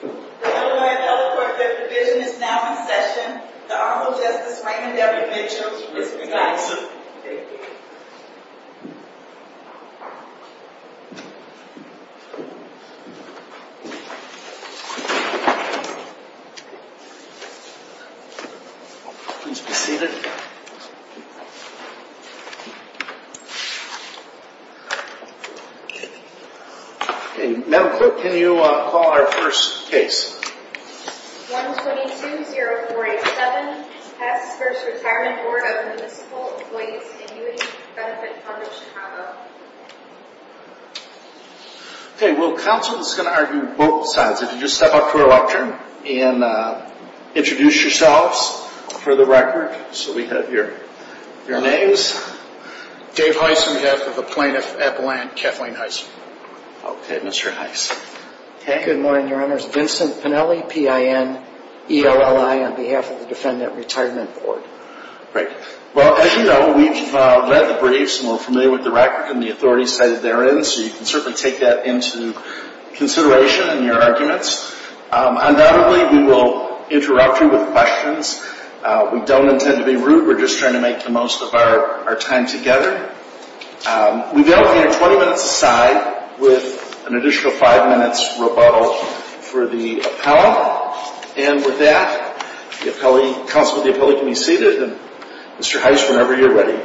The Illinois and Ellicott Federal Division is now in session. The Honorable Justice Raymond W. Mitchell is presiding. Madam Clerk, can you call our first case? 1-22-0487, Weiss v. Retirement Board of Municipal Employees Annuity Benefit Fund of Chicago Okay, well counsel is going to argue both sides. If you just step up to the lectern and introduce yourselves for the record. So we have your names. Dave Heiss on behalf of the Plaintiff Appellant Kathleen Heiss. Okay, Mr. Heiss. Good morning, Your Honors. Vincent Pennelly, P.I.N. E.L.L.I. on behalf of the Defendant Retirement Board. Great. Well, as you know, we've read the briefs and we're familiar with the record and the authority cited therein. So you can certainly take that into consideration in your arguments. Undoubtedly, we will interrupt you with questions. We don't intend to be rude. We're just trying to make the most of our time together. We've allocated 20 minutes a side with an additional 5 minutes rebuttal for the appellant. And with that, the appellant, counsel of the appellant can be seated and Mr. Heiss whenever you're ready.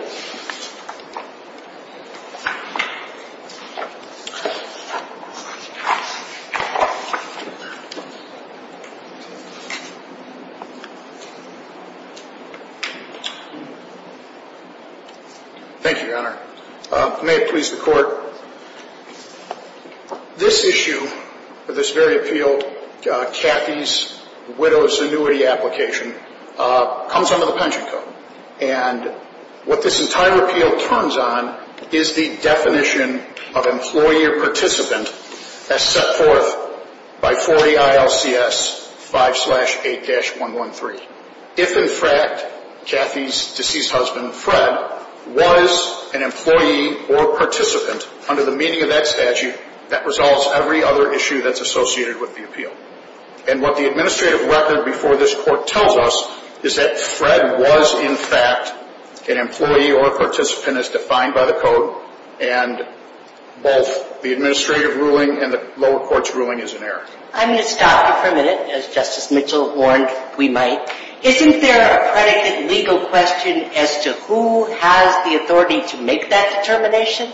Thank you, Your Honor. May it please the Court. This issue of this very appeal, Kathy's widow's annuity application, comes under the pension code. And what this entire appeal turns on is the definition of employee or participant as set forth by 40 ILCS 5-8-113. If, in fact, Kathy's deceased husband, Fred, was an employee or participant under the meaning of that statute, that resolves every other issue that's associated with the appeal. And what the administrative record before this Court tells us is that Fred was, in fact, an employee or participant as defined by the code. And both the administrative ruling and the lower court's ruling is in error. I'm going to stop you for a minute. As Justice Mitchell warned, we might. Isn't there a predicate legal question as to who has the authority to make that determination?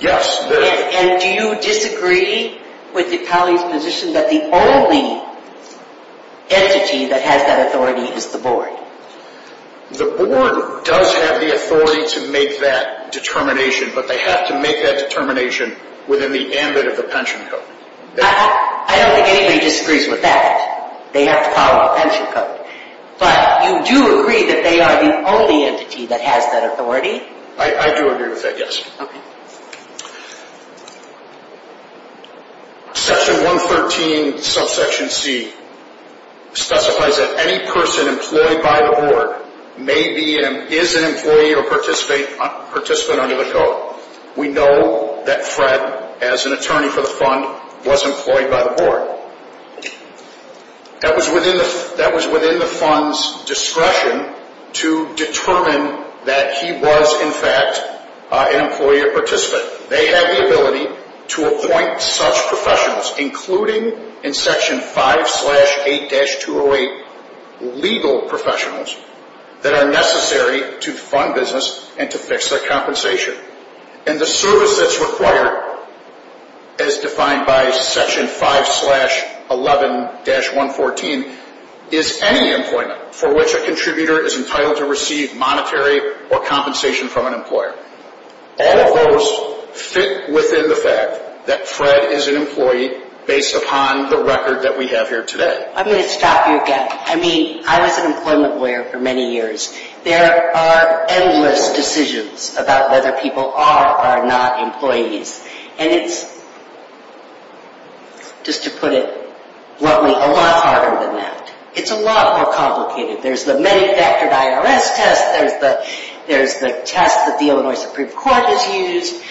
Yes, there is. And do you disagree with the colleague's position that the only entity that has that authority is the board? The board does have the authority to make that determination, but they have to make that determination within the ambit of the pension code. I don't think anybody disagrees with that. They have to follow the pension code. But you do agree that they are the only entity that has that authority? I do agree with that, yes. Section 113, subsection C, specifies that any person employed by the board may be and is an employee or participant under the code. We know that Fred, as an attorney for the fund, was employed by the board. That was within the fund's discretion to determine that he was, in fact, an employee or participant. They have the ability to appoint such professionals, including in section 5-8-208 legal professionals, that are necessary to fund business and to fix their compensation. And the service that's required, as defined by section 5-11-114, is any employment for which a contributor is entitled to receive monetary or compensation from an employer. All of those fit within the fact that Fred is an employee based upon the record that we have here today. I'm going to stop you again. I mean, I was an employment lawyer for many years. There are endless decisions about whether people are or are not employees. And it's, just to put it bluntly, a lot harder than that. It's a lot more complicated. There's the manufactured IRS test. There's the test that the Illinois Supreme Court has used.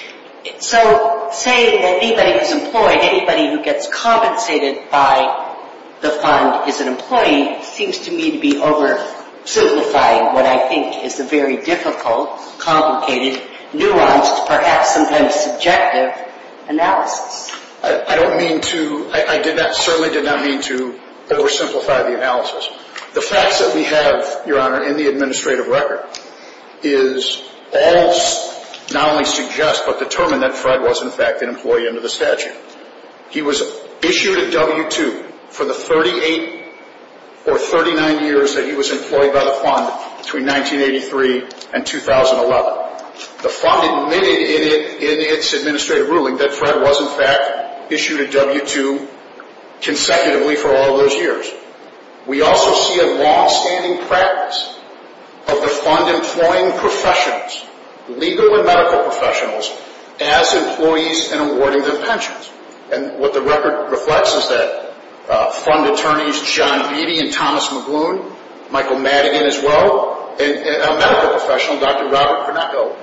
So, saying that anybody who's employed, anybody who gets compensated by the fund is an employee, seems to me to be oversimplifying what I think is a very difficult, complicated, nuanced, perhaps sometimes subjective analysis. I don't mean to, I did not, certainly did not mean to oversimplify the analysis. The facts that we have, Your Honor, in the administrative record is all, not only suggest, but determine that Fred was, in fact, an employee under the statute. He was issued a W-2 for the 38 or 39 years that he was employed by the fund between 1983 and 2011. The fund admitted in its administrative ruling that Fred was, in fact, issued a W-2 consecutively for all of those years. We also see a longstanding practice of the fund employing professionals, legal and medical professionals, as employees in awarding them pensions. And what the record reflects is that fund attorneys John Beattie and Thomas Magoon, Michael Madigan as well, and a medical professional, Dr. Robert Conecco,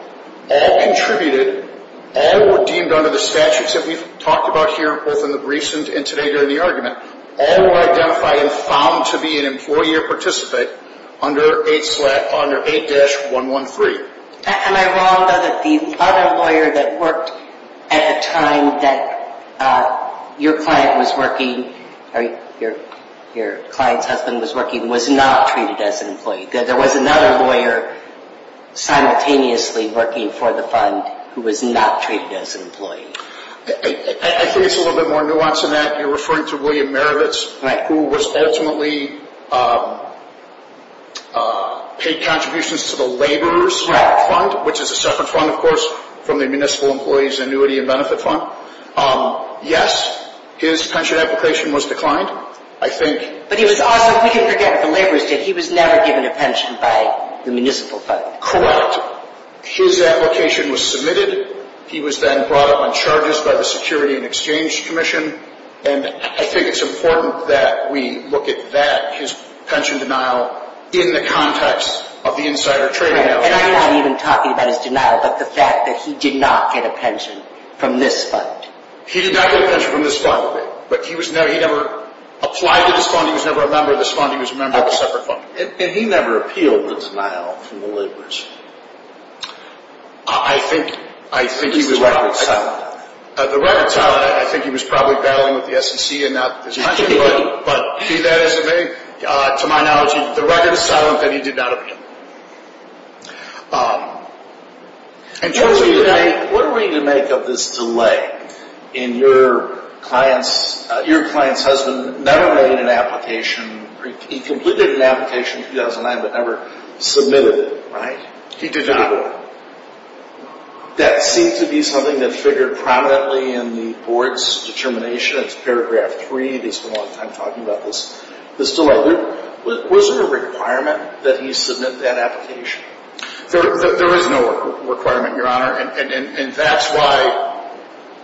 all contributed, all were deemed under the statutes that we've talked about here, both in the briefs and today during the argument. All were identified and found to be an employee or participant under 8-113. Am I wrong, though, that the other lawyer that worked at the time that your client was working, or your client's husband was working, was not treated as an employee? That there was another lawyer simultaneously working for the fund who was not treated as an employee? I think it's a little bit more nuanced than that. You're referring to William Marovitz, who was ultimately paid contributions to the Laborers Fund, which is a separate fund, of course, from the Municipal Employees Annuity and Benefit Fund. Yes, his pension application was declined, I think. But he was also, if we can forget what the Laborers did, he was never given a pension by the Municipal Fund. Correct. His application was submitted. He was then brought up on charges by the Security and Exchange Commission. And I think it's important that we look at that, his pension denial, in the context of the insider trading. And I'm not even talking about his denial, but the fact that he did not get a pension from this fund. He did not get a pension from this fund, but he never applied to this fund. He was never a member of this fund. He was a member of a separate fund. And he never appealed the denial from the Laborers. I think he was probably… This is record-solid. The record-solid, I think he was probably battling with the SEC and not his pension, but to my knowledge, the record-solid that he did not appeal. In terms of the… What are we to make of this delay in your client's… Your client's husband never made an application… He completed an application in 2009, but never submitted it, right? He did not. That seemed to be something that figured prominently in the Board's determination. It's paragraph 3. They spent a lot of time talking about this. Was there a requirement that he submit that application? There is no requirement, Your Honor. And that's why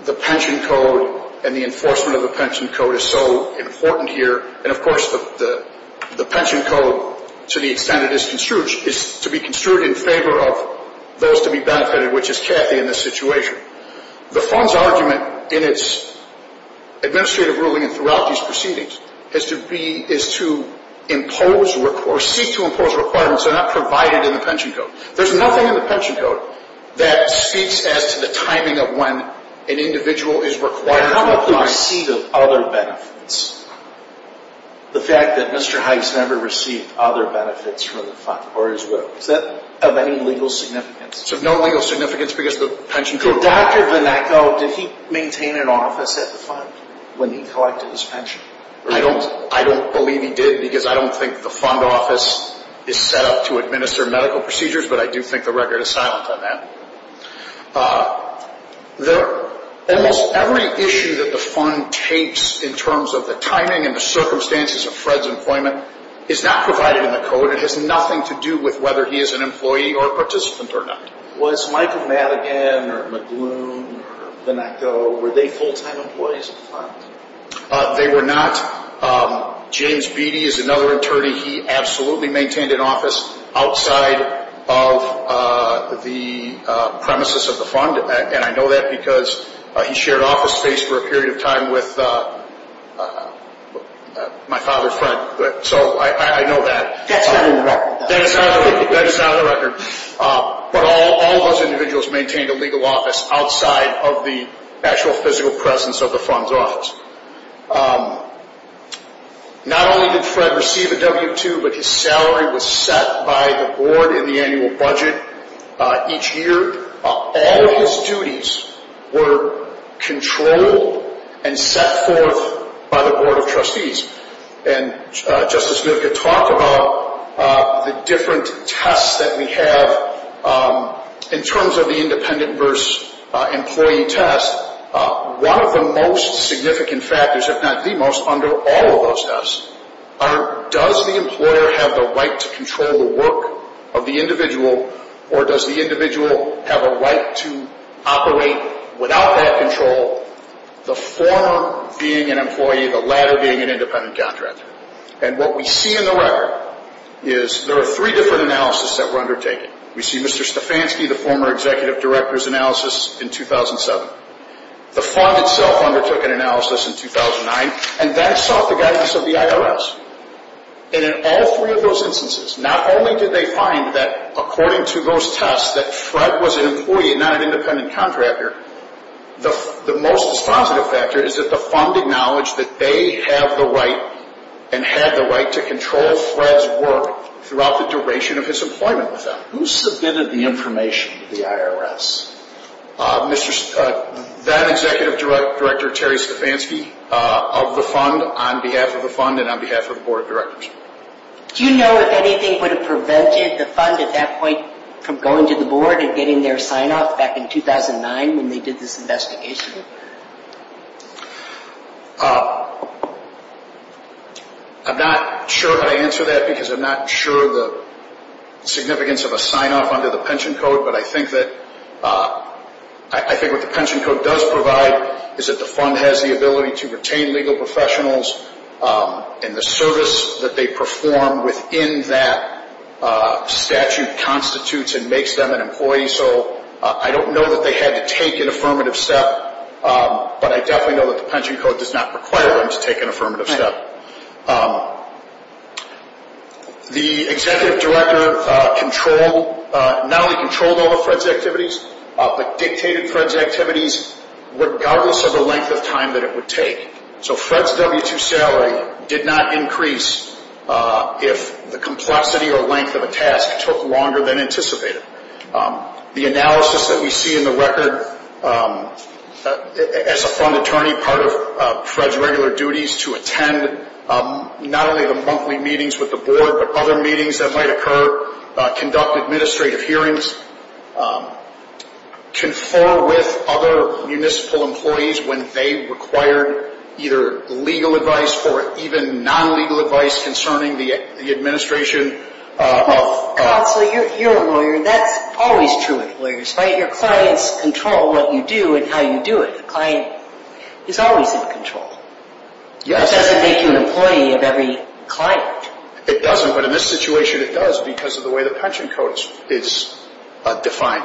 the pension code and the enforcement of the pension code is so important here. And, of course, the pension code, to the extent it is construed, is to be construed in favor of those to be benefited, which is Kathy in this situation. The Fund's argument in its administrative ruling and throughout these proceedings is to impose or seek to impose requirements that are not provided in the pension code. There's nothing in the pension code that speaks as to the timing of when an individual is required to apply. How about the receipt of other benefits? The fact that Mr. Heiss never received other benefits from the Fund or his will. Is that of any legal significance? It's of no legal significance because the pension code... So Dr. Vonneko, did he maintain an office at the Fund when he collected his pension? I don't believe he did because I don't think the Fund office is set up to administer medical procedures, but I do think the record is silent on that. Almost every issue that the Fund takes in terms of the timing and the circumstances of Fred's employment is not provided in the code. It has nothing to do with whether he is an employee or a participant or not. Was Michael Madigan or McLoone or Vonneko, were they full-time employees of the Fund? They were not. James Beattie is another attorney. He absolutely maintained an office outside of the premises of the Fund, and I know that because he shared office space for a period of time with my father's friend. So I know that. That's not on the record. That is not on the record. But all of those individuals maintained a legal office outside of the actual physical presence of the Fund's office. Not only did Fred receive a W-2, but his salary was set by the Board in the annual budget each year. All of his duties were controlled and set forth by the Board of Trustees. And Justice Mnookin talked about the different tests that we have in terms of the independent versus employee test. One of the most significant factors, if not the most, under all of those tests, are does the employer have the right to control the work of the individual, or does the individual have a right to operate without that control, the former being an employee, the latter being an independent contractor. And what we see in the record is there are three different analyses that were undertaken. We see Mr. Stefanski, the former executive director's analysis in 2007. The Fund itself undertook an analysis in 2009, and that sought the guidance of the IRS. And in all three of those instances, not only did they find that, according to those tests, that Fred was an employee and not an independent contractor, the most positive factor is that the Fund acknowledged that they have the right and had the right to control Fred's work throughout the duration of his employment with them. Who submitted the information to the IRS? Then-Executive Director Terry Stefanski of the Fund on behalf of the Fund and on behalf of the Board of Directors. Do you know if anything would have prevented the Fund at that point from going to the Board and getting their sign-off back in 2009 when they did this investigation? I'm not sure how to answer that because I'm not sure the significance of a sign-off under the pension code, but I think that what the pension code does provide is that the Fund has the ability to retain legal professionals and the service that they perform within that statute constitutes and makes them an employee. So I don't know that they had to take an affirmative step, but I definitely know that the pension code does not require them to take an affirmative step. The Executive Director not only controlled all of Fred's activities, but dictated Fred's activities, regardless of the length of time that it would take. So Fred's W-2 salary did not increase if the complexity or length of a task took longer than anticipated. The analysis that we see in the record, as a Fund attorney, part of Fred's regular duties to attend, not only the monthly meetings with the Board, but other meetings that might occur, conduct administrative hearings, confer with other municipal employees when they required either legal advice or even non-legal advice concerning the administration of... Counsel, you're a lawyer. That's always true of lawyers, right? Your clients control what you do and how you do it. A client is always in control. Yes. It doesn't make you an employee of every client. It doesn't, but in this situation it does because of the way the pension code is defined.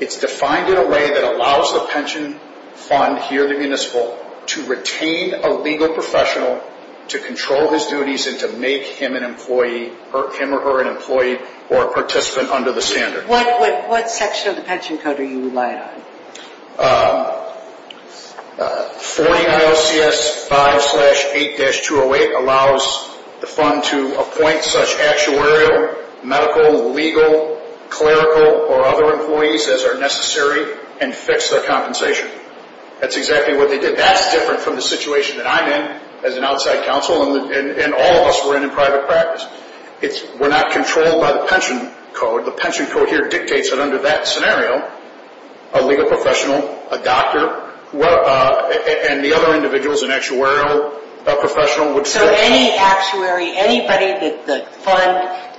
It's defined in a way that allows the pension fund here at the municipal to retain a legal professional to control his duties and to make him or her an employee or participant under the standard. What section of the pension code are you reliant on? 49 OCS 5-8-208 allows the fund to appoint such actuarial, medical, legal, clerical, or other employees as are necessary and fix their compensation. That's exactly what they did. That's different from the situation that I'm in as an outside counsel and all of us were in in private practice. We're not controlled by the pension code. The pension code here dictates that under that scenario, a legal professional, a doctor, and the other individuals, an actuarial professional would fix... So any actuary, anybody that the fund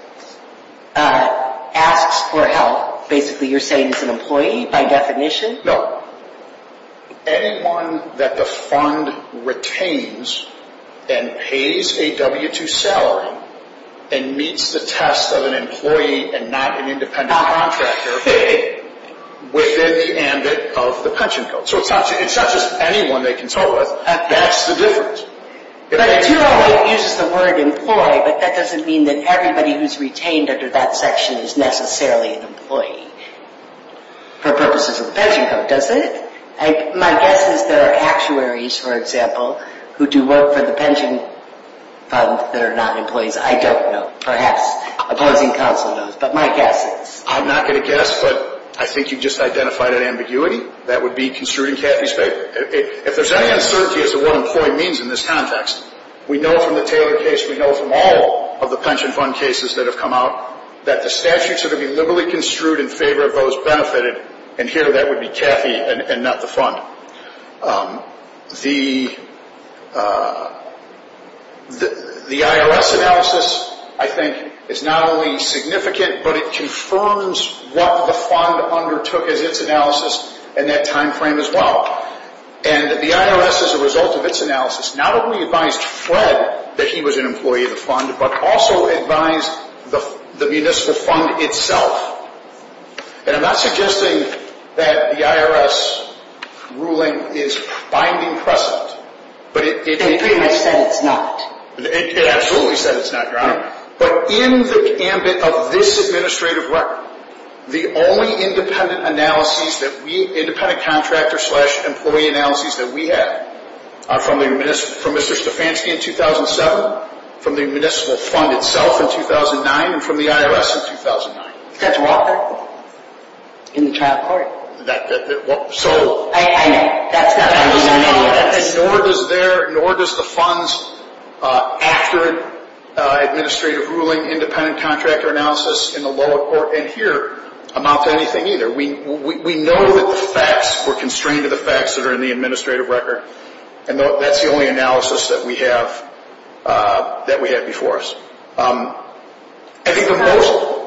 asks for help, basically you're saying is an employee by definition? No. Anyone that the fund retains and pays a W-2 salary and meets the test of an employee and not an independent contractor within the ambit of the pension code. So it's not just anyone they consult with. That's the difference. 50-208 uses the word employee, but that doesn't mean that everybody who's retained under that section is necessarily an employee for purposes of the pension code, does it? My guess is there are actuaries, for example, who do work for the pension fund that are not employees. I don't know. Perhaps opposing counsel knows, but my guess is. I'm not going to guess, but I think you've just identified an ambiguity. That would be construing Cathy's paper. If there's any uncertainty as to what employee means in this context, we know from the Taylor case, we know from all of the pension fund cases that have come out, that the statutes are to be liberally construed in favor of those benefited, and here that would be Cathy and not the fund. The IRS analysis, I think, is not only significant, but it confirms what the fund undertook as its analysis in that time frame as well. And the IRS, as a result of its analysis, not only advised Fred that he was an employee of the fund, but also advised the municipal fund itself. And I'm not suggesting that the IRS ruling is binding precedent. It pretty much said it's not. It absolutely said it's not, Your Honor. But in the ambit of this administrative record, the only independent contractor-slash-employee analyses that we have are from Mr. Stefanski in 2007, from the municipal fund itself in 2009, and from the IRS in 2009. That's Walker in the child court. I know. That's not in the IRS. Nor does the funds after administrative ruling independent contractor analysis in the lower court. And here, I'm not saying anything either. We know that the facts were constrained to the facts that are in the administrative record, and that's the only analysis that we have before us. I think the most... So,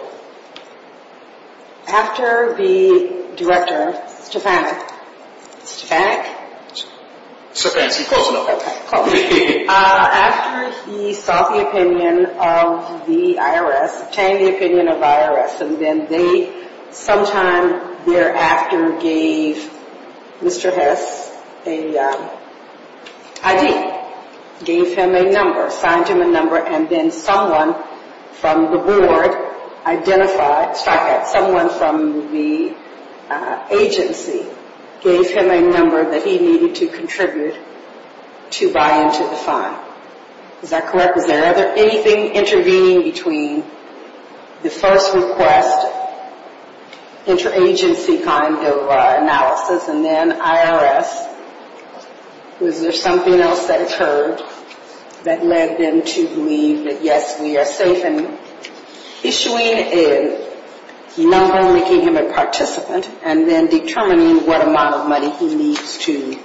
after the director, Stefanski, after he saw the opinion of the IRS, obtained the opinion of the IRS, and then they, sometime thereafter, gave Mr. Hess an ID, gave him a number, signed him a number, and then someone from the board identified, someone from the agency, gave him a number that he needed to contribute to buy into the fund. Is that correct? Is there anything intervening between the first request, interagency kind of analysis, and then IRS? Was there something else that occurred that led them to believe that, yes, we are safe in issuing a number, making him a participant, and then determining what amount of money he needs to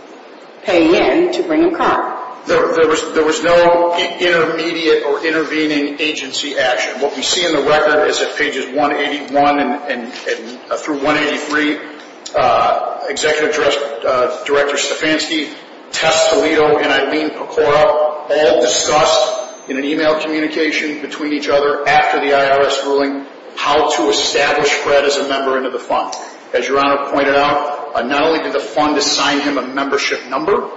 pay in to bring him current? There was no intermediate or intervening agency action. What we see in the record is that pages 181 through 183, Executive Director Stefanski, Tess Toledo, and Eileen Pecora, all discussed in an email communication between each other after the IRS ruling how to establish Fred as a member into the fund. As Your Honor pointed out, not only did the fund assign him a membership number,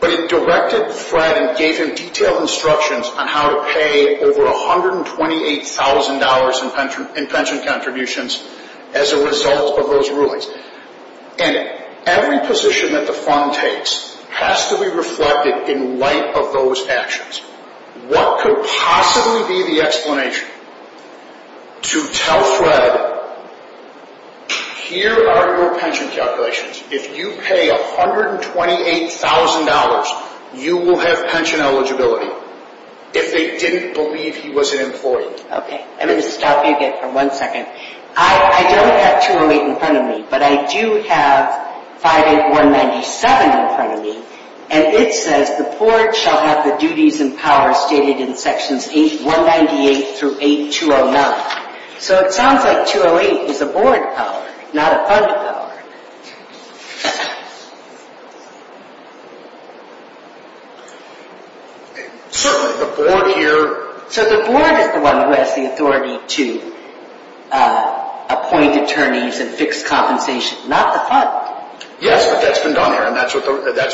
but it directed Fred and gave him detailed instructions on how to pay over $128,000 in pension contributions as a result of those rulings. And every position that the fund takes has to be reflected in light of those actions. What could possibly be the explanation to tell Fred, here are your pension calculations. If you pay $128,000, you will have pension eligibility. If they didn't believe he was an employee. Okay, I'm going to stop you again for one second. I don't have 208 in front of me, but I do have 58197 in front of me, and it says, the poor shall have the duties and powers stated in sections 8198 through 8209. So it sounds like 208 is a board power, not a fund power. Certainly, the board here... So the board is the one who has the authority to appoint attorneys and fix compensation, not the fund. Yes, but that's been done here, and that's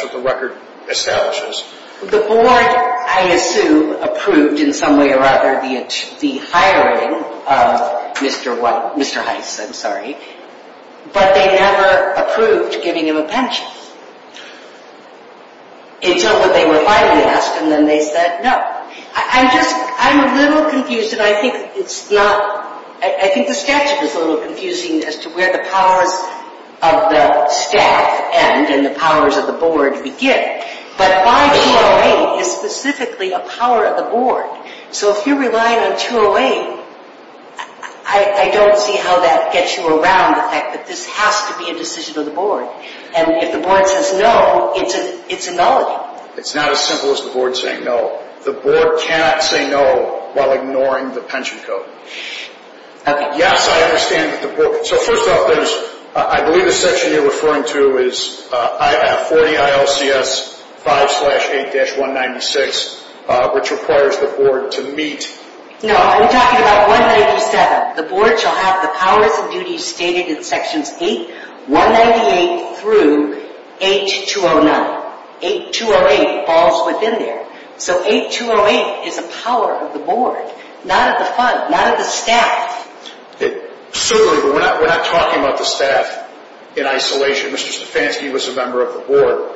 what the record establishes. The board, I assume, approved in some way or other the hiring of Mr. Heiss, I'm sorry. But they never approved giving him a pension. Until they were finally asked, and then they said no. I'm just, I'm a little confused, and I think it's not... I think the statute is a little confusing as to where the powers of the staff end and the powers of the board begin. But my 208 is specifically a power of the board. So if you're relying on 208, I don't see how that gets you around the fact that this has to be a decision of the board. And if the board says no, it's a nullity. It's not as simple as the board saying no. The board cannot say no while ignoring the pension code. Yes, I understand that the board... So first off, I believe the section you're referring to is 40 ILCS 5-8-196, which requires the board to meet... No, I'm talking about 197. The board shall have the powers and duties stated in sections 198 through 209. 208 falls within there. So 8208 is a power of the board, not of the fund, not of the staff. Certainly, but we're not talking about the staff in isolation. Mr. Stefanski was a member of the board.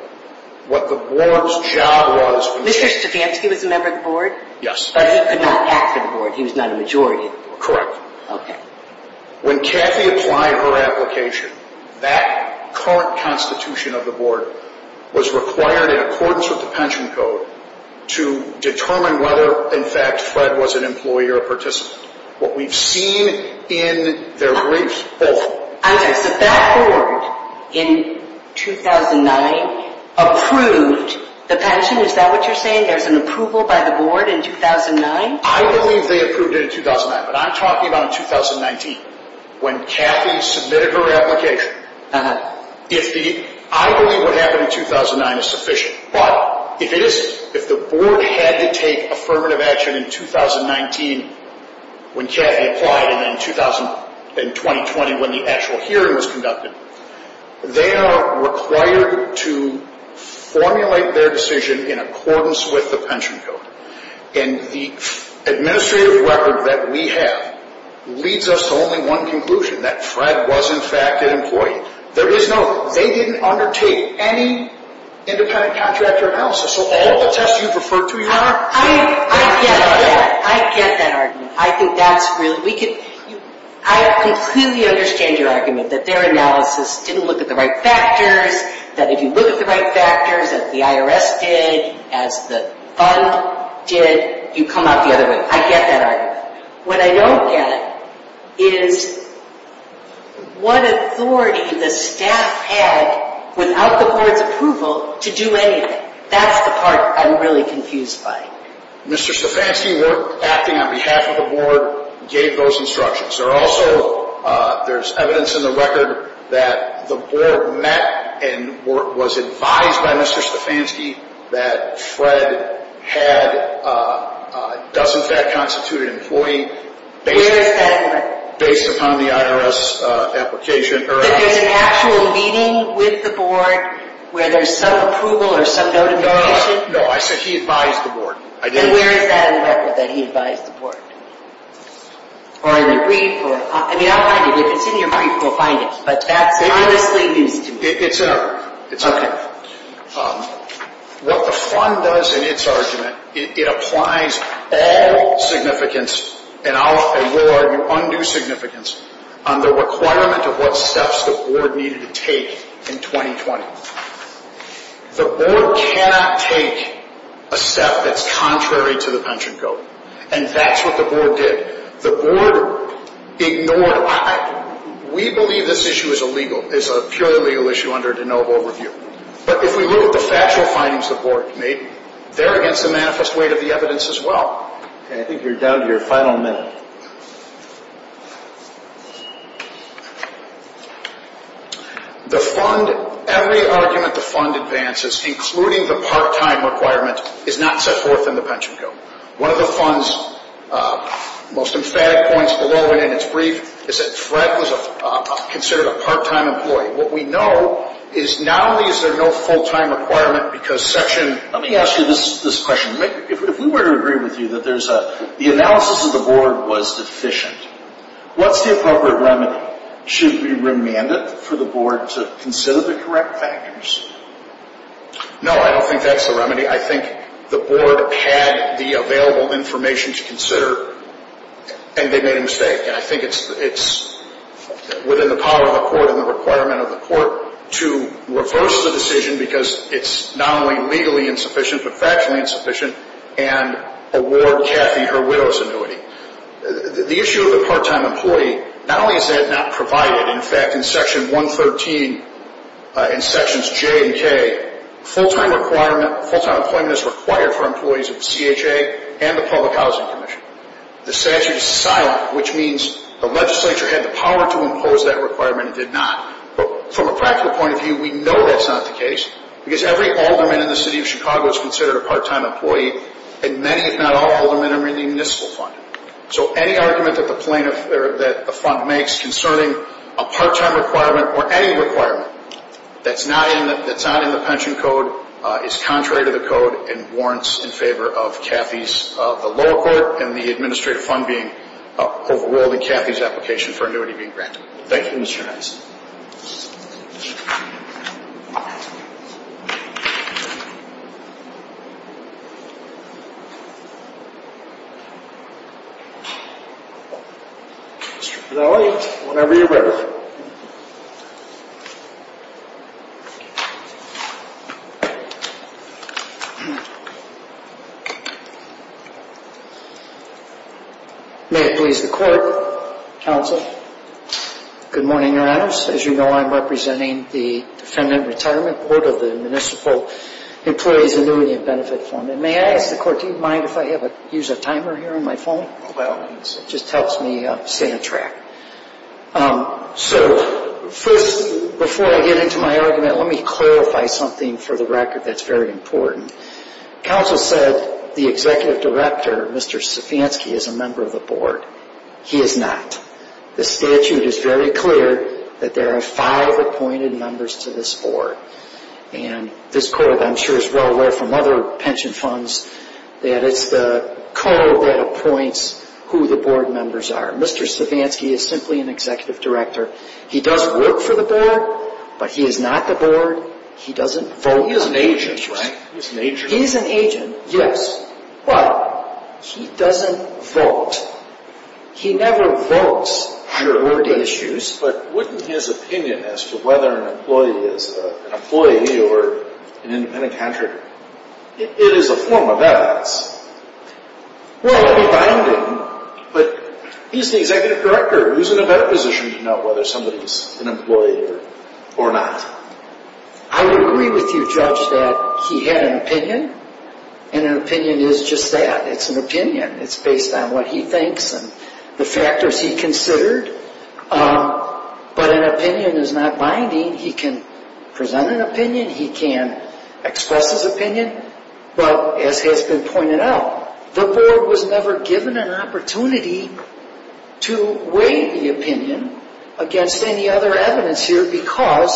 What the board's job was... Mr. Stefanski was a member of the board? Yes. But he could not act for the board. He was not a majority of the board. Correct. Okay. When Kathy applied her application, that current constitution of the board was required in accordance with the pension code to determine whether, in fact, Fred was an employee or a participant. What we've seen in their briefs... I'm sorry. So that board, in 2009, approved the pension? Is that what you're saying? There's an approval by the board in 2009? I believe they approved it in 2009, but I'm talking about in 2019. When Kathy submitted her application, I believe what happened in 2009 is sufficient. But if the board had to take affirmative action in 2019, when Kathy applied, and in 2020, when the actual hearing was conducted, they are required to formulate their decision in accordance with the pension code. And the administrative record that we have leads us to only one conclusion, that Fred was, in fact, an employee. There is no... They didn't undertake any independent contractor analysis. So all the tests you've referred to, you're not... I get that. I get that argument. I think that's really... I completely understand your argument that their analysis didn't look at the right factors, that if you look at the right factors that the IRS did, as the fund did, you come out the other way. I get that argument. What I don't get is what authority the staff had, without the board's approval, to do anything. That's the part I'm really confused by. Mr. Stefanski worked, acting on behalf of the board, gave those instructions. There's evidence in the record that the board met and was advised by Mr. Stefanski that Fred had, in fact, constituted an employee based upon the IRS application. But there's an actual meeting with the board where there's some approval or some notification? No, I said he advised the board. Then where is that in the record, that he advised the board? Or in the brief? I mean, I'll find it. If it's in your brief, we'll find it. But that's enormously used to me. It's in our... Okay. What the fund does in its argument, it applies all significance, and I will argue undue significance, on the requirement of what steps the board needed to take in 2020. The board cannot take a step that's contrary to the pension code. And that's what the board did. The board ignored... We believe this issue is illegal, is a purely legal issue under de novo review. But if we look at the factual findings the board made, they're against the manifest weight of the evidence as well. Okay, I think you're down to your final minute. The fund... Every argument the fund advances, including the part-time requirement, is not set forth in the pension code. One of the fund's most emphatic points below and in its brief is that Fred was considered a part-time employee. What we know is not only is there no full-time requirement because Section... Let me ask you this question. If we were to agree with you that the analysis of the board was deficient, what's the appropriate remedy? Should we remand it for the board to consider the correct factors? No, I don't think that's the remedy. I think the board had the available information to consider, and they made a mistake. And I think it's within the power of the court and the requirement of the court to reverse the decision because it's not only legally insufficient but factually insufficient, and award Kathy her widow's annuity. The issue of the part-time employee, not only is that not provided, in fact, in Section 113, in Sections J and K, full-time employment is required for employees of CHA and the Public Housing Commission. The statute is silent, which means the legislature had the power to impose that requirement and did not. From a practical point of view, we know that's not the case because every alderman in the city of Chicago is considered a part-time employee, and many, if not all, aldermen are in the municipal fund. So any argument that the fund makes concerning a part-time requirement or any requirement that's not in the pension code is contrary to the code and warrants in favor of Kathy's, of the lower court and the administrative fund being overruled in Kathy's application for annuity being granted. Thank you, Mr. Nelson. Mr. Fidele, whenever you're ready. May it please the court, counsel, good morning, your honors. As you know, I'm representing the Defendant Retirement Board of the Municipal Employees Annuity and Benefit Fund. And may I ask the court, do you mind if I use a timer here on my phone? Well, it just helps me stay on track. So first, before I get into my argument, let me clarify something for the record that's very important. Counsel said the executive director, Mr. Savansky, is a member of the board. He is not. The statute is very clear that there are five appointed members to this board. And this court, I'm sure, is well aware from other pension funds that it's the code that appoints who the board members are. Mr. Savansky is simply an executive director. He does work for the board, but he is not the board. He doesn't vote on issues. He's an agent, right? He's an agent. He's an agent, yes. But he doesn't vote. He never votes on your board issues. But what is his opinion as to whether an employee is an employee or an independent contractor? It is a form of that. Well, it would be binding. But he's the executive director. Who's in a better position to know whether somebody's an employee or not? I would agree with you, Judge, that he had an opinion, and an opinion is just that. It's an opinion. It's based on what he thinks and the factors he considered. But an opinion is not binding. He can present an opinion. He can express his opinion. But as has been pointed out, the board was never given an opportunity to weigh the opinion against any other evidence here because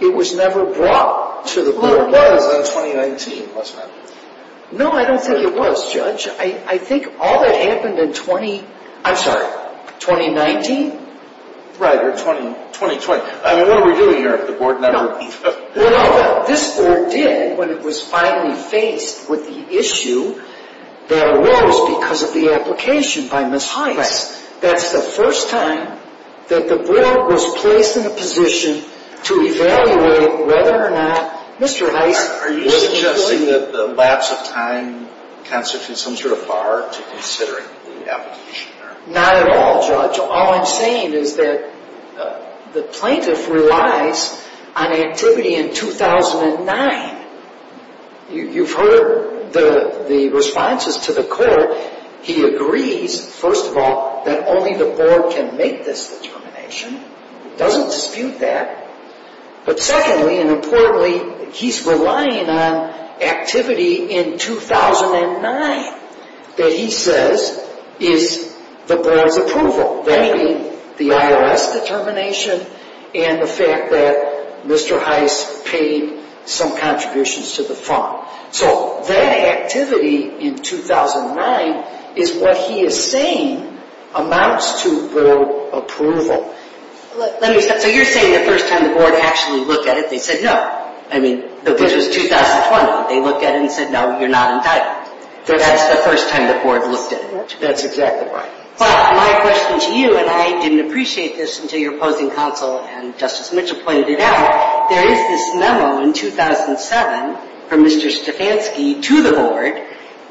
it was never brought to the board. Well, it was in 2019, wasn't it? No, I don't think it was, Judge. I think all that happened in 20—I'm sorry, 2019. Right, or 2020. I mean, what are we doing here if the board never— Well, this board did when it was finally faced with the issue that arose because of the application by Mr. Heiss. Right. That's the first time that the board was placed in a position to evaluate whether or not Mr. Heiss— Are you suggesting that the lapse of time constitutes some sort of bar to considering the application? Not at all, Judge. All I'm saying is that the plaintiff relies on activity in 2009. You've heard the responses to the court. He agrees, first of all, that only the board can make this determination. He doesn't dispute that. But secondly and importantly, he's relying on activity in 2009 that he says is the board's approval, that being the IRS determination and the fact that Mr. Heiss paid some contributions to the fund. So that activity in 2009 is what he is saying amounts to board approval. So you're saying the first time the board actually looked at it, they said no. I mean, this was 2020. They looked at it and said, no, you're not entitled. That's the first time the board looked at it. That's exactly right. But my question to you, and I didn't appreciate this until your opposing counsel and Justice Mitchell pointed it out, there is this memo in 2007 from Mr. Stefanski to the board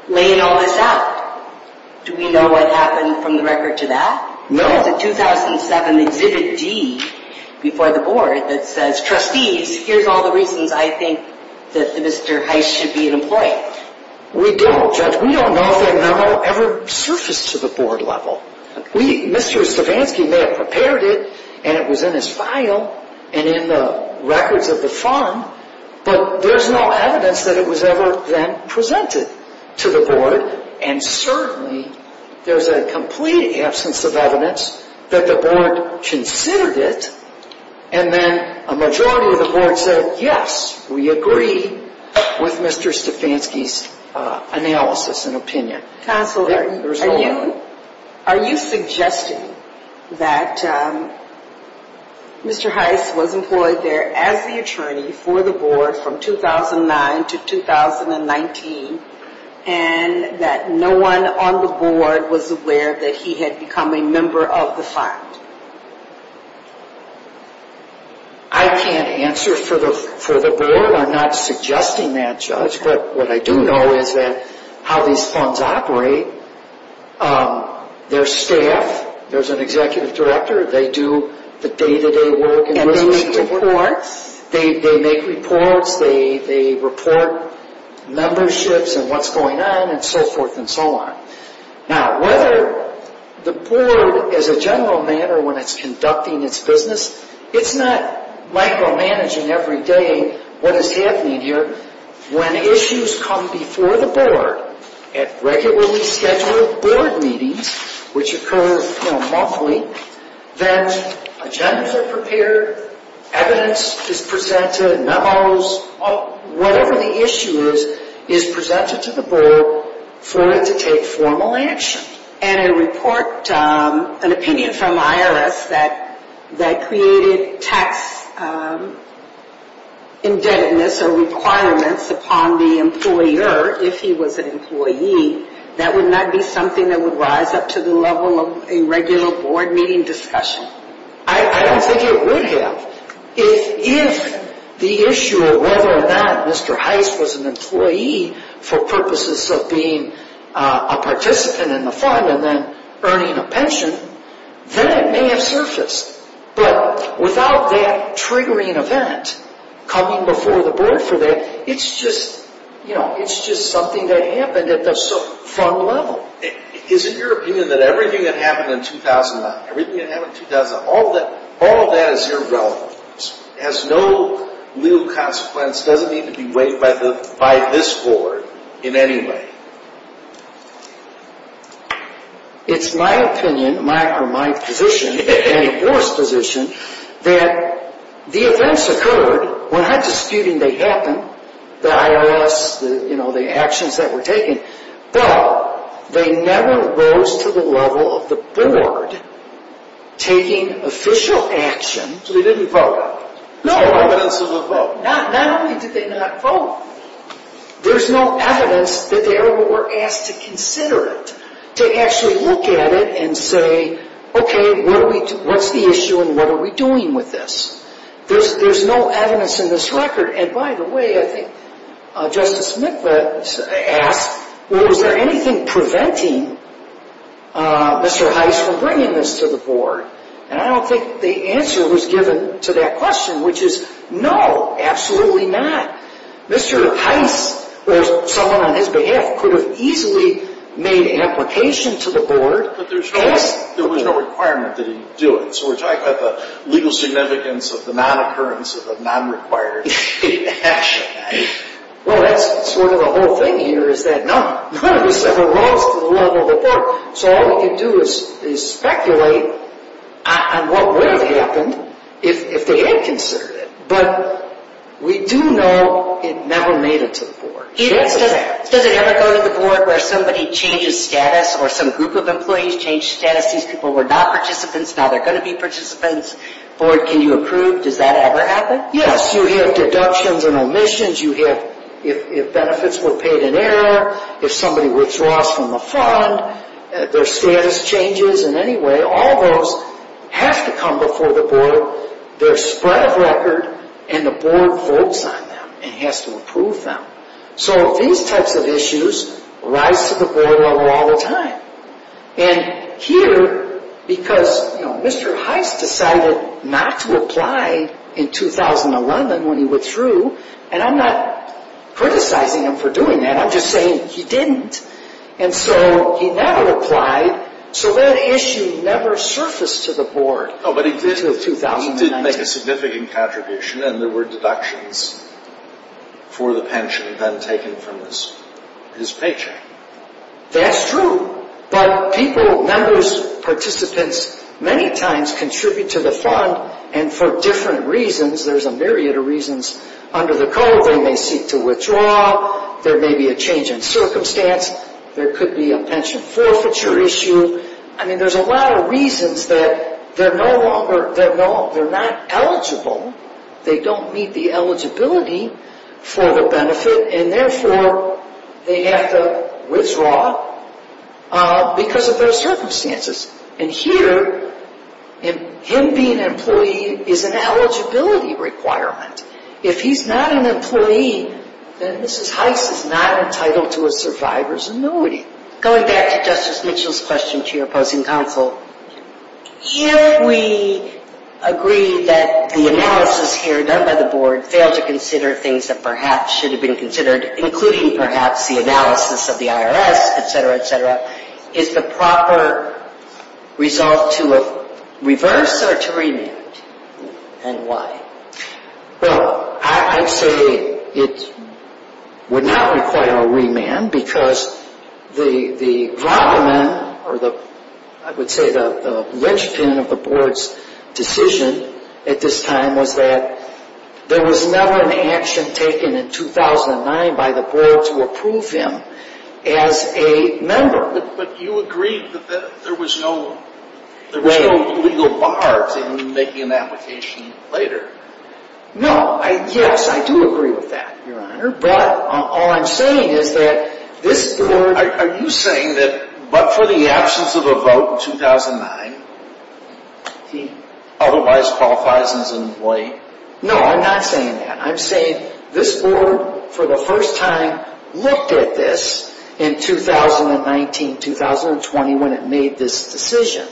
laying all this out. Do we know what happened from the record to that? No. There was a 2007 Exhibit D before the board that says, trustees, here's all the reasons I think that Mr. Heiss should be an employee. We don't, Judge. We don't know if that memo ever surfaced to the board level. Mr. Stefanski may have prepared it and it was in his file and in the records of the fund, but there's no evidence that it was ever then presented to the board. And certainly there's a complete absence of evidence that the board considered it, and then a majority of the board said, yes, we agree with Mr. Stefanski's analysis and opinion. Counsel, are you suggesting that Mr. Heiss was employed there as the attorney for the board from 2009 to 2019 and that no one on the board was aware that he had become a member of the fund? I can't answer for the board. I'm not suggesting that, Judge. But what I do know is that how these funds operate, their staff, there's an executive director. They do the day-to-day work. And they make reports. They make reports. They report memberships and what's going on and so forth and so on. Now, whether the board, as a general matter, when it's conducting its business, it's not micromanaging every day what is happening here. When issues come before the board at regularly scheduled board meetings, which occur monthly, that agendas are prepared, evidence is presented, memos, whatever the issue is is presented to the board for it to take formal action. And a report, an opinion from IRS that created tax indebtedness or requirements upon the employer, if he was an employee, that would not be something that would rise up to the level of a regular board meeting discussion. I don't think it would have. If the issue of whether or not Mr. Heist was an employee for purposes of being a participant in the fund and then earning a pension, then it may have surfaced. But without that triggering event coming before the board for that, it's just something that happened at the fund level. Isn't your opinion that everything that happened in 2009, everything that happened in 2009, all of that is irrelevant, has no real consequence, doesn't need to be weighed by this board in any way? It's my opinion, my position, and your position, that the events occurred, we're not disputing they happened, the IRS, the actions that were taken, but they never rose to the level of the board taking official action. So they didn't vote? No evidence of a vote. Not only did they not vote, there's no evidence that they were asked to consider it, to actually look at it and say, okay, what's the issue and what are we doing with this? There's no evidence in this record. And by the way, I think Justice Mikva asked, was there anything preventing Mr. Heist from bringing this to the board? And I don't think the answer was given to that question, which is no, absolutely not. Mr. Heist, or someone on his behalf, could have easily made an application to the board. But there was no requirement that he do it. So we're talking about the legal significance of the non-occurrence of a non-required action. Well, that's sort of the whole thing here, is that none of this ever rose to the level of the board. So all we can do is speculate on what would have happened if they had considered it. But we do know it never made it to the board. Does it ever go to the board where somebody changes status or some group of employees change status? These people were not participants, now they're going to be participants. Board, can you approve? Does that ever happen? Yes, you have deductions and omissions. You have, if benefits were paid in error, if somebody withdraws from the fund, their status changes. In any way, all those have to come before the board. They're spread of record, and the board votes on them and has to approve them. So these types of issues rise to the board level all the time. And here, because Mr. Heist decided not to apply in 2011 when he withdrew, and I'm not criticizing him for doing that. I'm just saying he didn't. And so he never applied, so that issue never surfaced to the board. But he did make a significant contribution, and there were deductions for the pension then taken from his paycheck. That's true. But people, members, participants, many times contribute to the fund, and for different reasons. There's a myriad of reasons. Under the code, they may seek to withdraw. There may be a change in circumstance. There could be a pension forfeiture issue. I mean, there's a lot of reasons that they're not eligible. They don't meet the eligibility for the benefit, and therefore, they have to withdraw because of those circumstances. And here, him being an employee is an eligibility requirement. If he's not an employee, then Mrs. Heist is not entitled to a survivor's annuity. Going back to Justice Mitchell's question to your opposing counsel, if we agree that the analysis here done by the board failed to consider things that perhaps should have been considered, including perhaps the analysis of the IRS, et cetera, et cetera, is the proper result to reverse or to remand, and why? Well, I'd say it would not require a remand because the robberman, or I would say the linchpin of the board's decision at this time, was that there was never an action taken in 2009 by the board to approve him as a member. But you agreed that there was no legal bars in making an application later. No. Yes, I do agree with that, Your Honor, but all I'm saying is that this board... Are you saying that but for the absence of a vote in 2009, he otherwise qualifies as an employee? No, I'm not saying that. I'm saying this board, for the first time, looked at this in 2019, 2020, when it made this decision.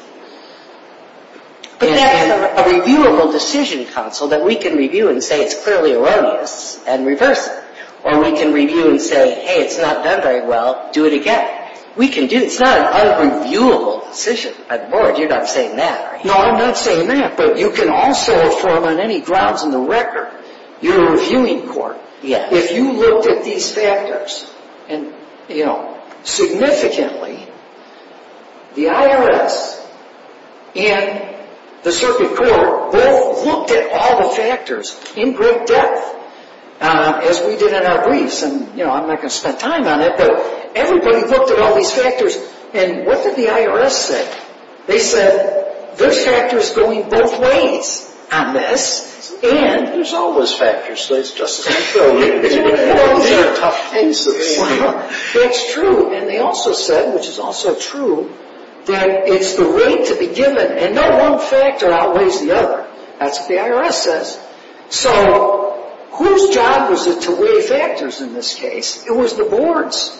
But that's a reviewable decision, counsel, that we can review and say it's clearly erroneous and reverse it. Or we can review and say, hey, it's not done very well. Do it again. We can do... It's not an unreviewable decision by the board. You're not saying that, are you? No, I'm not saying that, but you can also, for among any grounds in the record, you're a reviewing court. If you looked at these factors significantly, the IRS and the circuit court both looked at all the factors in great depth, as we did in our briefs, and I'm not going to spend time on it, but everybody looked at all these factors. And what did the IRS say? They said, there's factors going both ways on this, and... There's always factors, Justice McPherson. These are tough cases. That's true. And they also said, which is also true, that it's the rate to be given, and no one factor outweighs the other. That's what the IRS says. So whose job was it to weigh factors in this case? It was the board's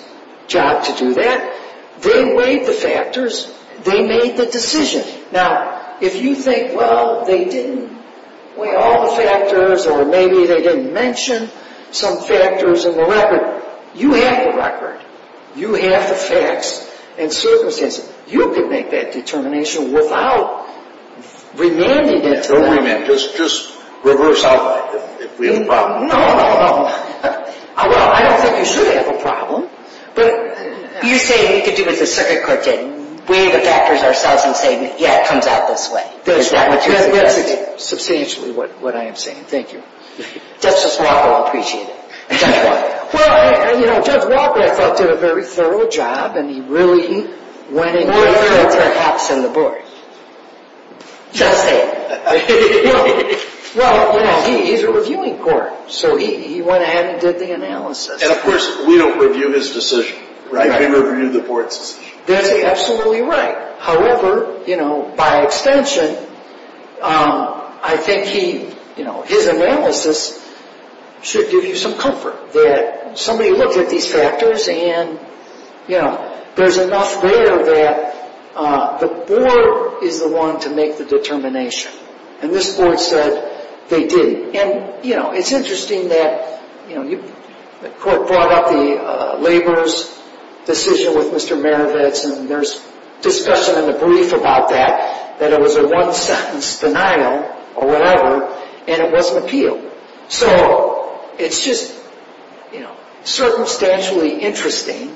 job to do that. They weighed the factors. They made the decision. Now, if you think, well, they didn't weigh all the factors, or maybe they didn't mention some factors in the record, you have the record. You have the facts and circumstances. You can make that determination without remanding it to them. Don't remand. Just reverse out if we have a problem. No, no, no. Well, I don't think you should have a problem. But you say we could do what the circuit court did, weigh the factors ourselves and say, yeah, it comes out this way. Is that what you're suggesting? That's substantially what I am saying. Thank you. Justice Walker, I'll appreciate it. Judge Walker. Well, you know, Judge Walker, I thought, did a very thorough job, and he really went in... Where? Very thorough, perhaps, in the board. Just saying. Well, you know, he's a reviewing court, so he went ahead and did the analysis. And, of course, we don't review his decision, right? We review the board's decision. That's absolutely right. However, you know, by extension, I think he, you know, his analysis should give you some comfort that somebody looked at these factors, and, you know, there's enough there that the board is the one to make the determination. And this board said they didn't. And, you know, it's interesting that, you know, the court brought up the laborer's decision with Mr. Maravetz, and there's discussion in the brief about that, that it was a one-sentence denial or whatever, and it wasn't appealed. So it's just, you know, circumstantially interesting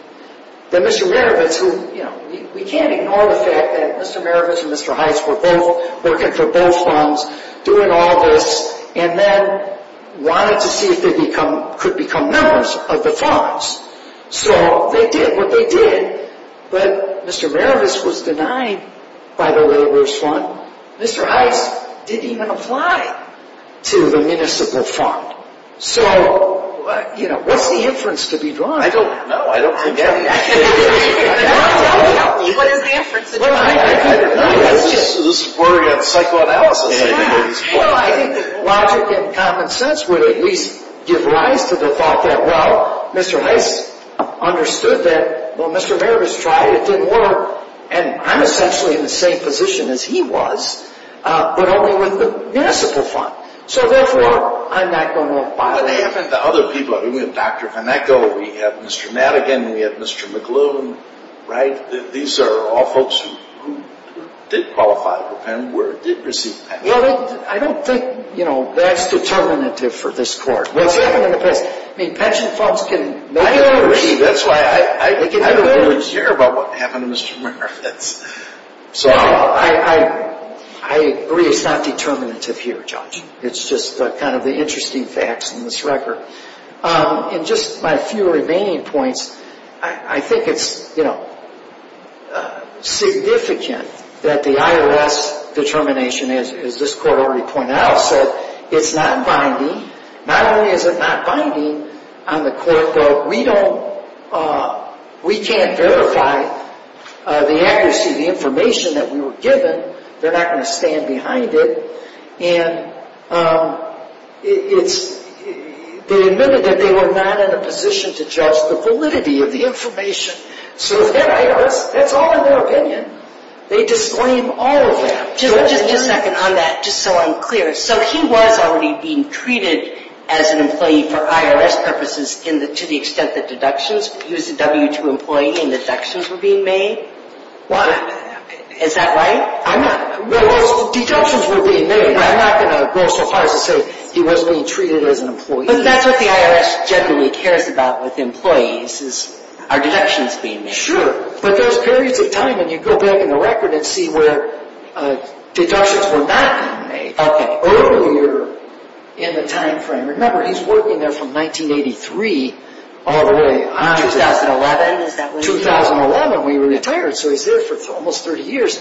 that Mr. Maravetz, who, you know, we can't ignore the fact that Mr. Maravetz and Mr. Heitz were both working for both funds, doing all this, and then wanted to see if they could become members of the funds. So they did what they did, but Mr. Maravetz was denied by the laborer's fund. Mr. Heitz didn't even apply to the municipal fund. So, you know, what's the inference to be drawn? I don't know. I don't think any of this is true. Tell me. What is the inference to be drawn? I don't know. This is a word on psychoanalysis. Well, I think logic and common sense would at least give rise to the thought that, well, Mr. Heitz understood that, well, Mr. Maravetz tried. It didn't work. And I'm essentially in the same position as he was, but only with the municipal fund. So, therefore, I'm not going to apply. What happened to other people? I mean, we have Dr. VanEcko. We have Mr. Madigan. We have Mr. McLuhan, right? These are all folks who did qualify for PEM, did receive PEM. Well, I don't think, you know, that's determinative for this Court. What's happened in the past? I mean, pension funds can make or receive. That's why I don't really care about what happened to Mr. Maravetz. So, I agree. I agree it's not determinative here, Judge. It's just kind of the interesting facts in this record. And just my few remaining points, I think it's, you know, significant that the IRS determination, as this Court already pointed out, said it's not binding. Not only is it not binding on the Court, but we don't, we can't verify the accuracy of the information that we were given. They're not going to stand behind it. And it's, they admitted that they were not in a position to judge the validity of the information. So, the IRS, that's all in their opinion. They disclaim all of that. Just a second on that, just so I'm clear. So, he was already being treated as an employee for IRS purposes to the extent that deductions, he was a W-2 employee and deductions were being made? What? Is that right? I'm not, well, those deductions were being made. I'm not going to go so far as to say he was being treated as an employee. But that's what the IRS generally cares about with employees, are deductions being made. Sure, but there's periods of time, and you go back in the record and see where deductions were not being made. Okay. Earlier in the time frame. Remember, he's working there from 1983 all the way on. 2011, is that when he was? 2011, when he retired. So, he's there for almost 30 years.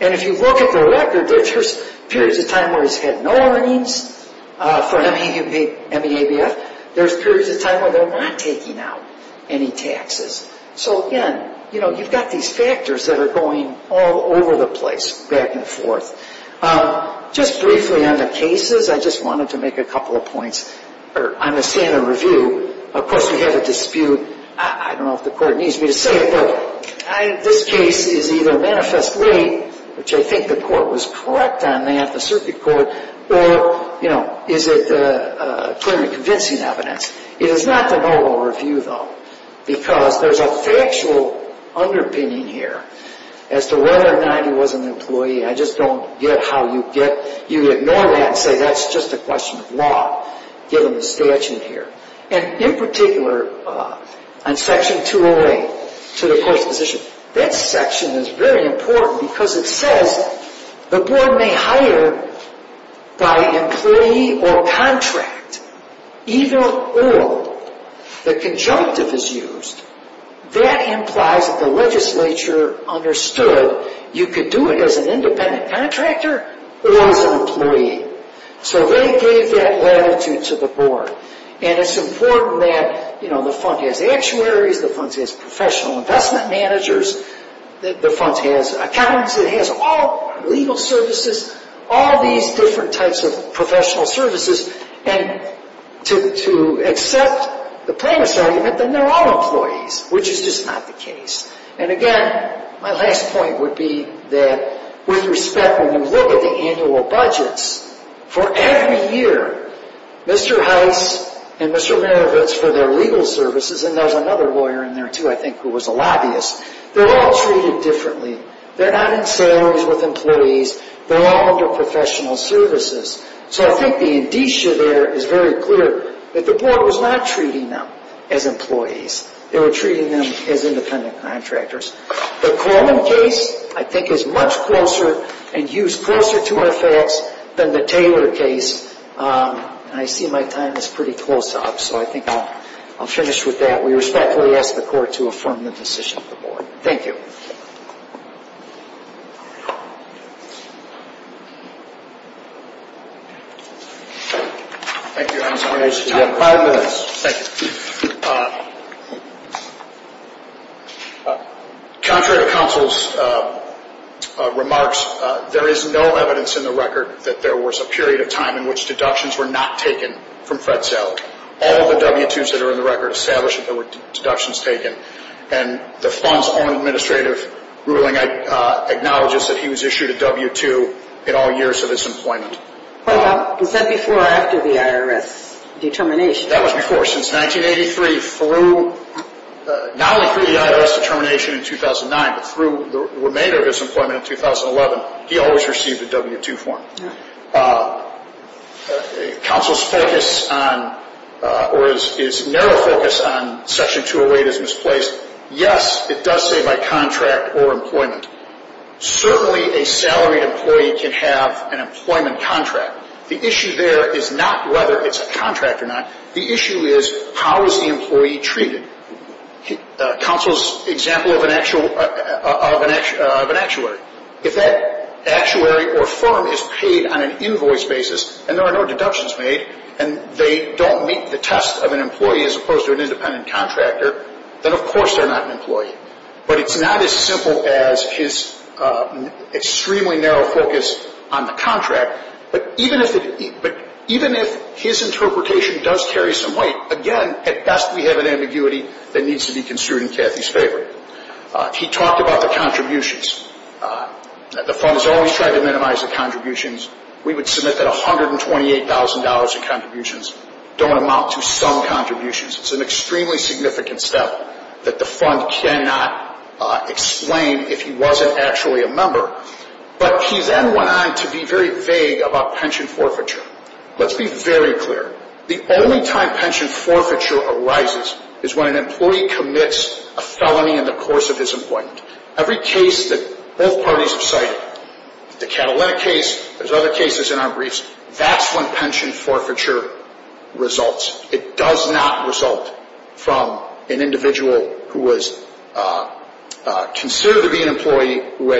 And if you look at the record, there's periods of time where he's had no earnings for MEABF. There's periods of time where they're not taking out any taxes. So, again, you know, you've got these factors that are going all over the place, back and forth. Just briefly on the cases, I just wanted to make a couple of points. I'm a stand-in review. Of course, we have a dispute. I don't know if the court needs me to say it, but this case is either manifestly, which I think the court was correct on that, the circuit court, or, you know, is it clearly convincing evidence. It is not the noble review, though, because there's a factual underpinning here as to whether or not he was an employee. I just don't get how you ignore that and say that's just a question of law, given the statute here. And in particular, on Section 208, to the court's position, that section is very important because it says, the board may hire by employee or contract, even if the conjunctive is used. That implies that the legislature understood you could do it as an independent contractor or as an employee. So they gave that latitude to the board. And it's important that, you know, the fund has actuaries. The fund has professional investment managers. The fund has accountants. It has all legal services, all these different types of professional services. And to accept the premise argument, then they're all employees, which is just not the case. And, again, my last point would be that, with respect, when you look at the annual budgets, for every year, Mr. Heiss and Mr. Marovitz, for their legal services, and there was another lawyer in there, too, I think, who was a lobbyist, they're all treated differently. They're not in salaries with employees. They're all under professional services. So I think the indicia there is very clear that the board was not treating them as employees. They were treating them as independent contractors. The Coleman case, I think, is much closer and used closer to our facts than the Taylor case. And I see my time is pretty close up, so I think I'll finish with that. We respectfully ask the court to affirm the decision of the board. Thank you. Thank you, Your Honor. You have five minutes. Thank you. Contrary to counsel's remarks, there is no evidence in the record that there was a period of time in which deductions were not taken from Fred Zell. All of the W-2s that are in the record establish that there were deductions taken. And the fund's own administrative ruling acknowledges that he was issued a W-2 in all years of his employment. Was that before or after the IRS determination? That was before. Since 1983, through not only through the IRS determination in 2009, but through the remainder of his employment in 2011, he always received a W-2 form. Counsel's focus or his narrow focus on Section 208 is misplaced. Yes, it does say by contract or employment. Certainly a salaried employee can have an employment contract. The issue there is not whether it's a contract or not. The issue is how is the employee treated. Counsel's example of an actuary. If that actuary or firm is paid on an invoice basis and there are no deductions made and they don't meet the test of an employee as opposed to an independent contractor, then of course they're not an employee. But it's not as simple as his extremely narrow focus on the contract. But even if his interpretation does carry some weight, again, at best we have an ambiguity that needs to be construed in Kathy's favor. He talked about the contributions. The fund has always tried to minimize the contributions. We would submit that $128,000 in contributions don't amount to some contributions. It's an extremely significant step that the fund cannot explain if he wasn't actually a member. But he then went on to be very vague about pension forfeiture. Let's be very clear. The only time pension forfeiture arises is when an employee commits a felony in the course of his employment. Every case that both parties have cited, the Catalina case, there's other cases in our briefs, that's when pension forfeiture results. It does not result from an individual who was considered to be an employee, who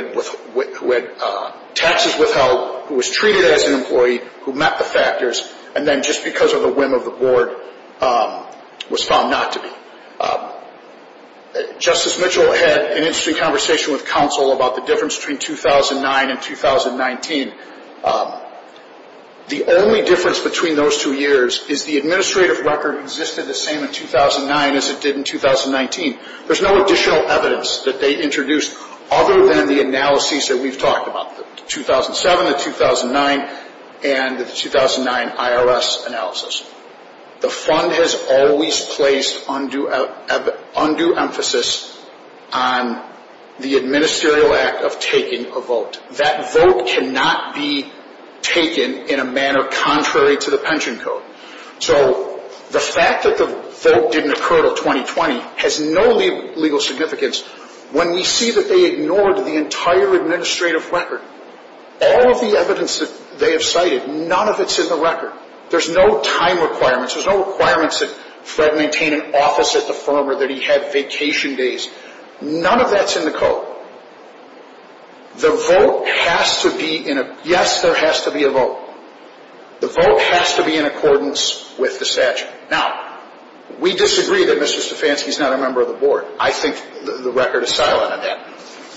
had taxes withheld, who was treated as an employee, who met the factors, and then just because of the whim of the board was found not to be. Justice Mitchell had an interesting conversation with counsel about the difference between 2009 and 2019. The only difference between those two years is the administrative record existed the same in 2009 as it did in 2019. There's no additional evidence that they introduced other than the analyses that we've talked about, the 2007, the 2009, and the 2009 IRS analysis. The fund has always placed undue emphasis on the administerial act of taking a vote. That vote cannot be taken in a manner contrary to the pension code. So the fact that the vote didn't occur until 2020 has no legal significance. When we see that they ignored the entire administrative record, all of the evidence that they have cited, none of it's in the record. There's no time requirements. There's no requirements that Fred maintain an office at the firm or that he have vacation days. None of that's in the code. The vote has to be in a – yes, there has to be a vote. The vote has to be in accordance with the statute. Now, we disagree that Mr. Stefanski is not a member of the board. I think the record is silent on that.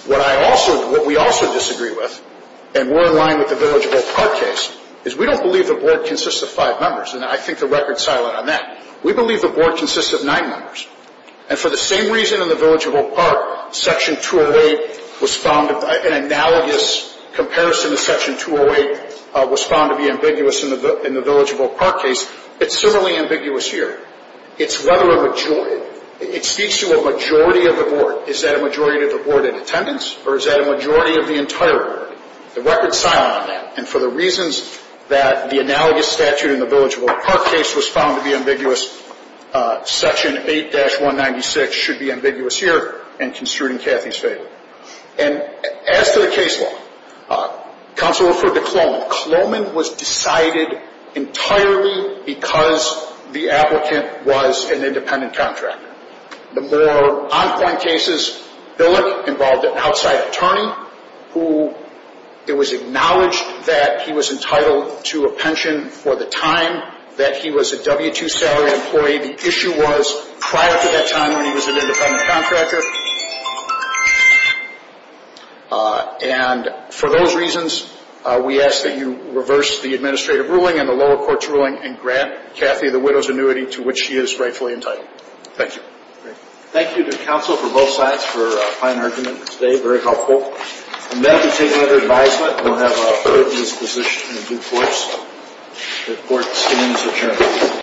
What I also – what we also disagree with, and we're in line with the Village of Oak Park case, is we don't believe the board consists of five members, and I think the record's silent on that. We believe the board consists of nine members. And for the same reason in the Village of Oak Park, Section 208 was found – an analogous comparison to Section 208 was found to be ambiguous in the Village of Oak Park case. It's similarly ambiguous here. It's whether a majority – it speaks to a majority of the board. Is that a majority of the board in attendance, or is that a majority of the entire board? The record's silent on that. And for the reasons that the analogous statute in the Village of Oak Park case was found to be ambiguous, Section 8-196 should be ambiguous here in construing Cathy's favor. And as to the case law, counsel referred to Cloman. Cloman was decided entirely because the applicant was an independent contractor. The more on-point cases, Billick involved an outside attorney who – it was acknowledged that he was entitled to a pension for the time that he was a W-2 salary employee. The issue was prior to that time when he was an independent contractor. And for those reasons, we ask that you reverse the administrative ruling and the lower court's ruling and grant Cathy the widow's annuity to which she is rightfully entitled. Thank you. Thank you to counsel for both sides for a fine argument today. Very helpful. And then to take another advisement, we'll have a third in this position in due course. The court stands adjourned.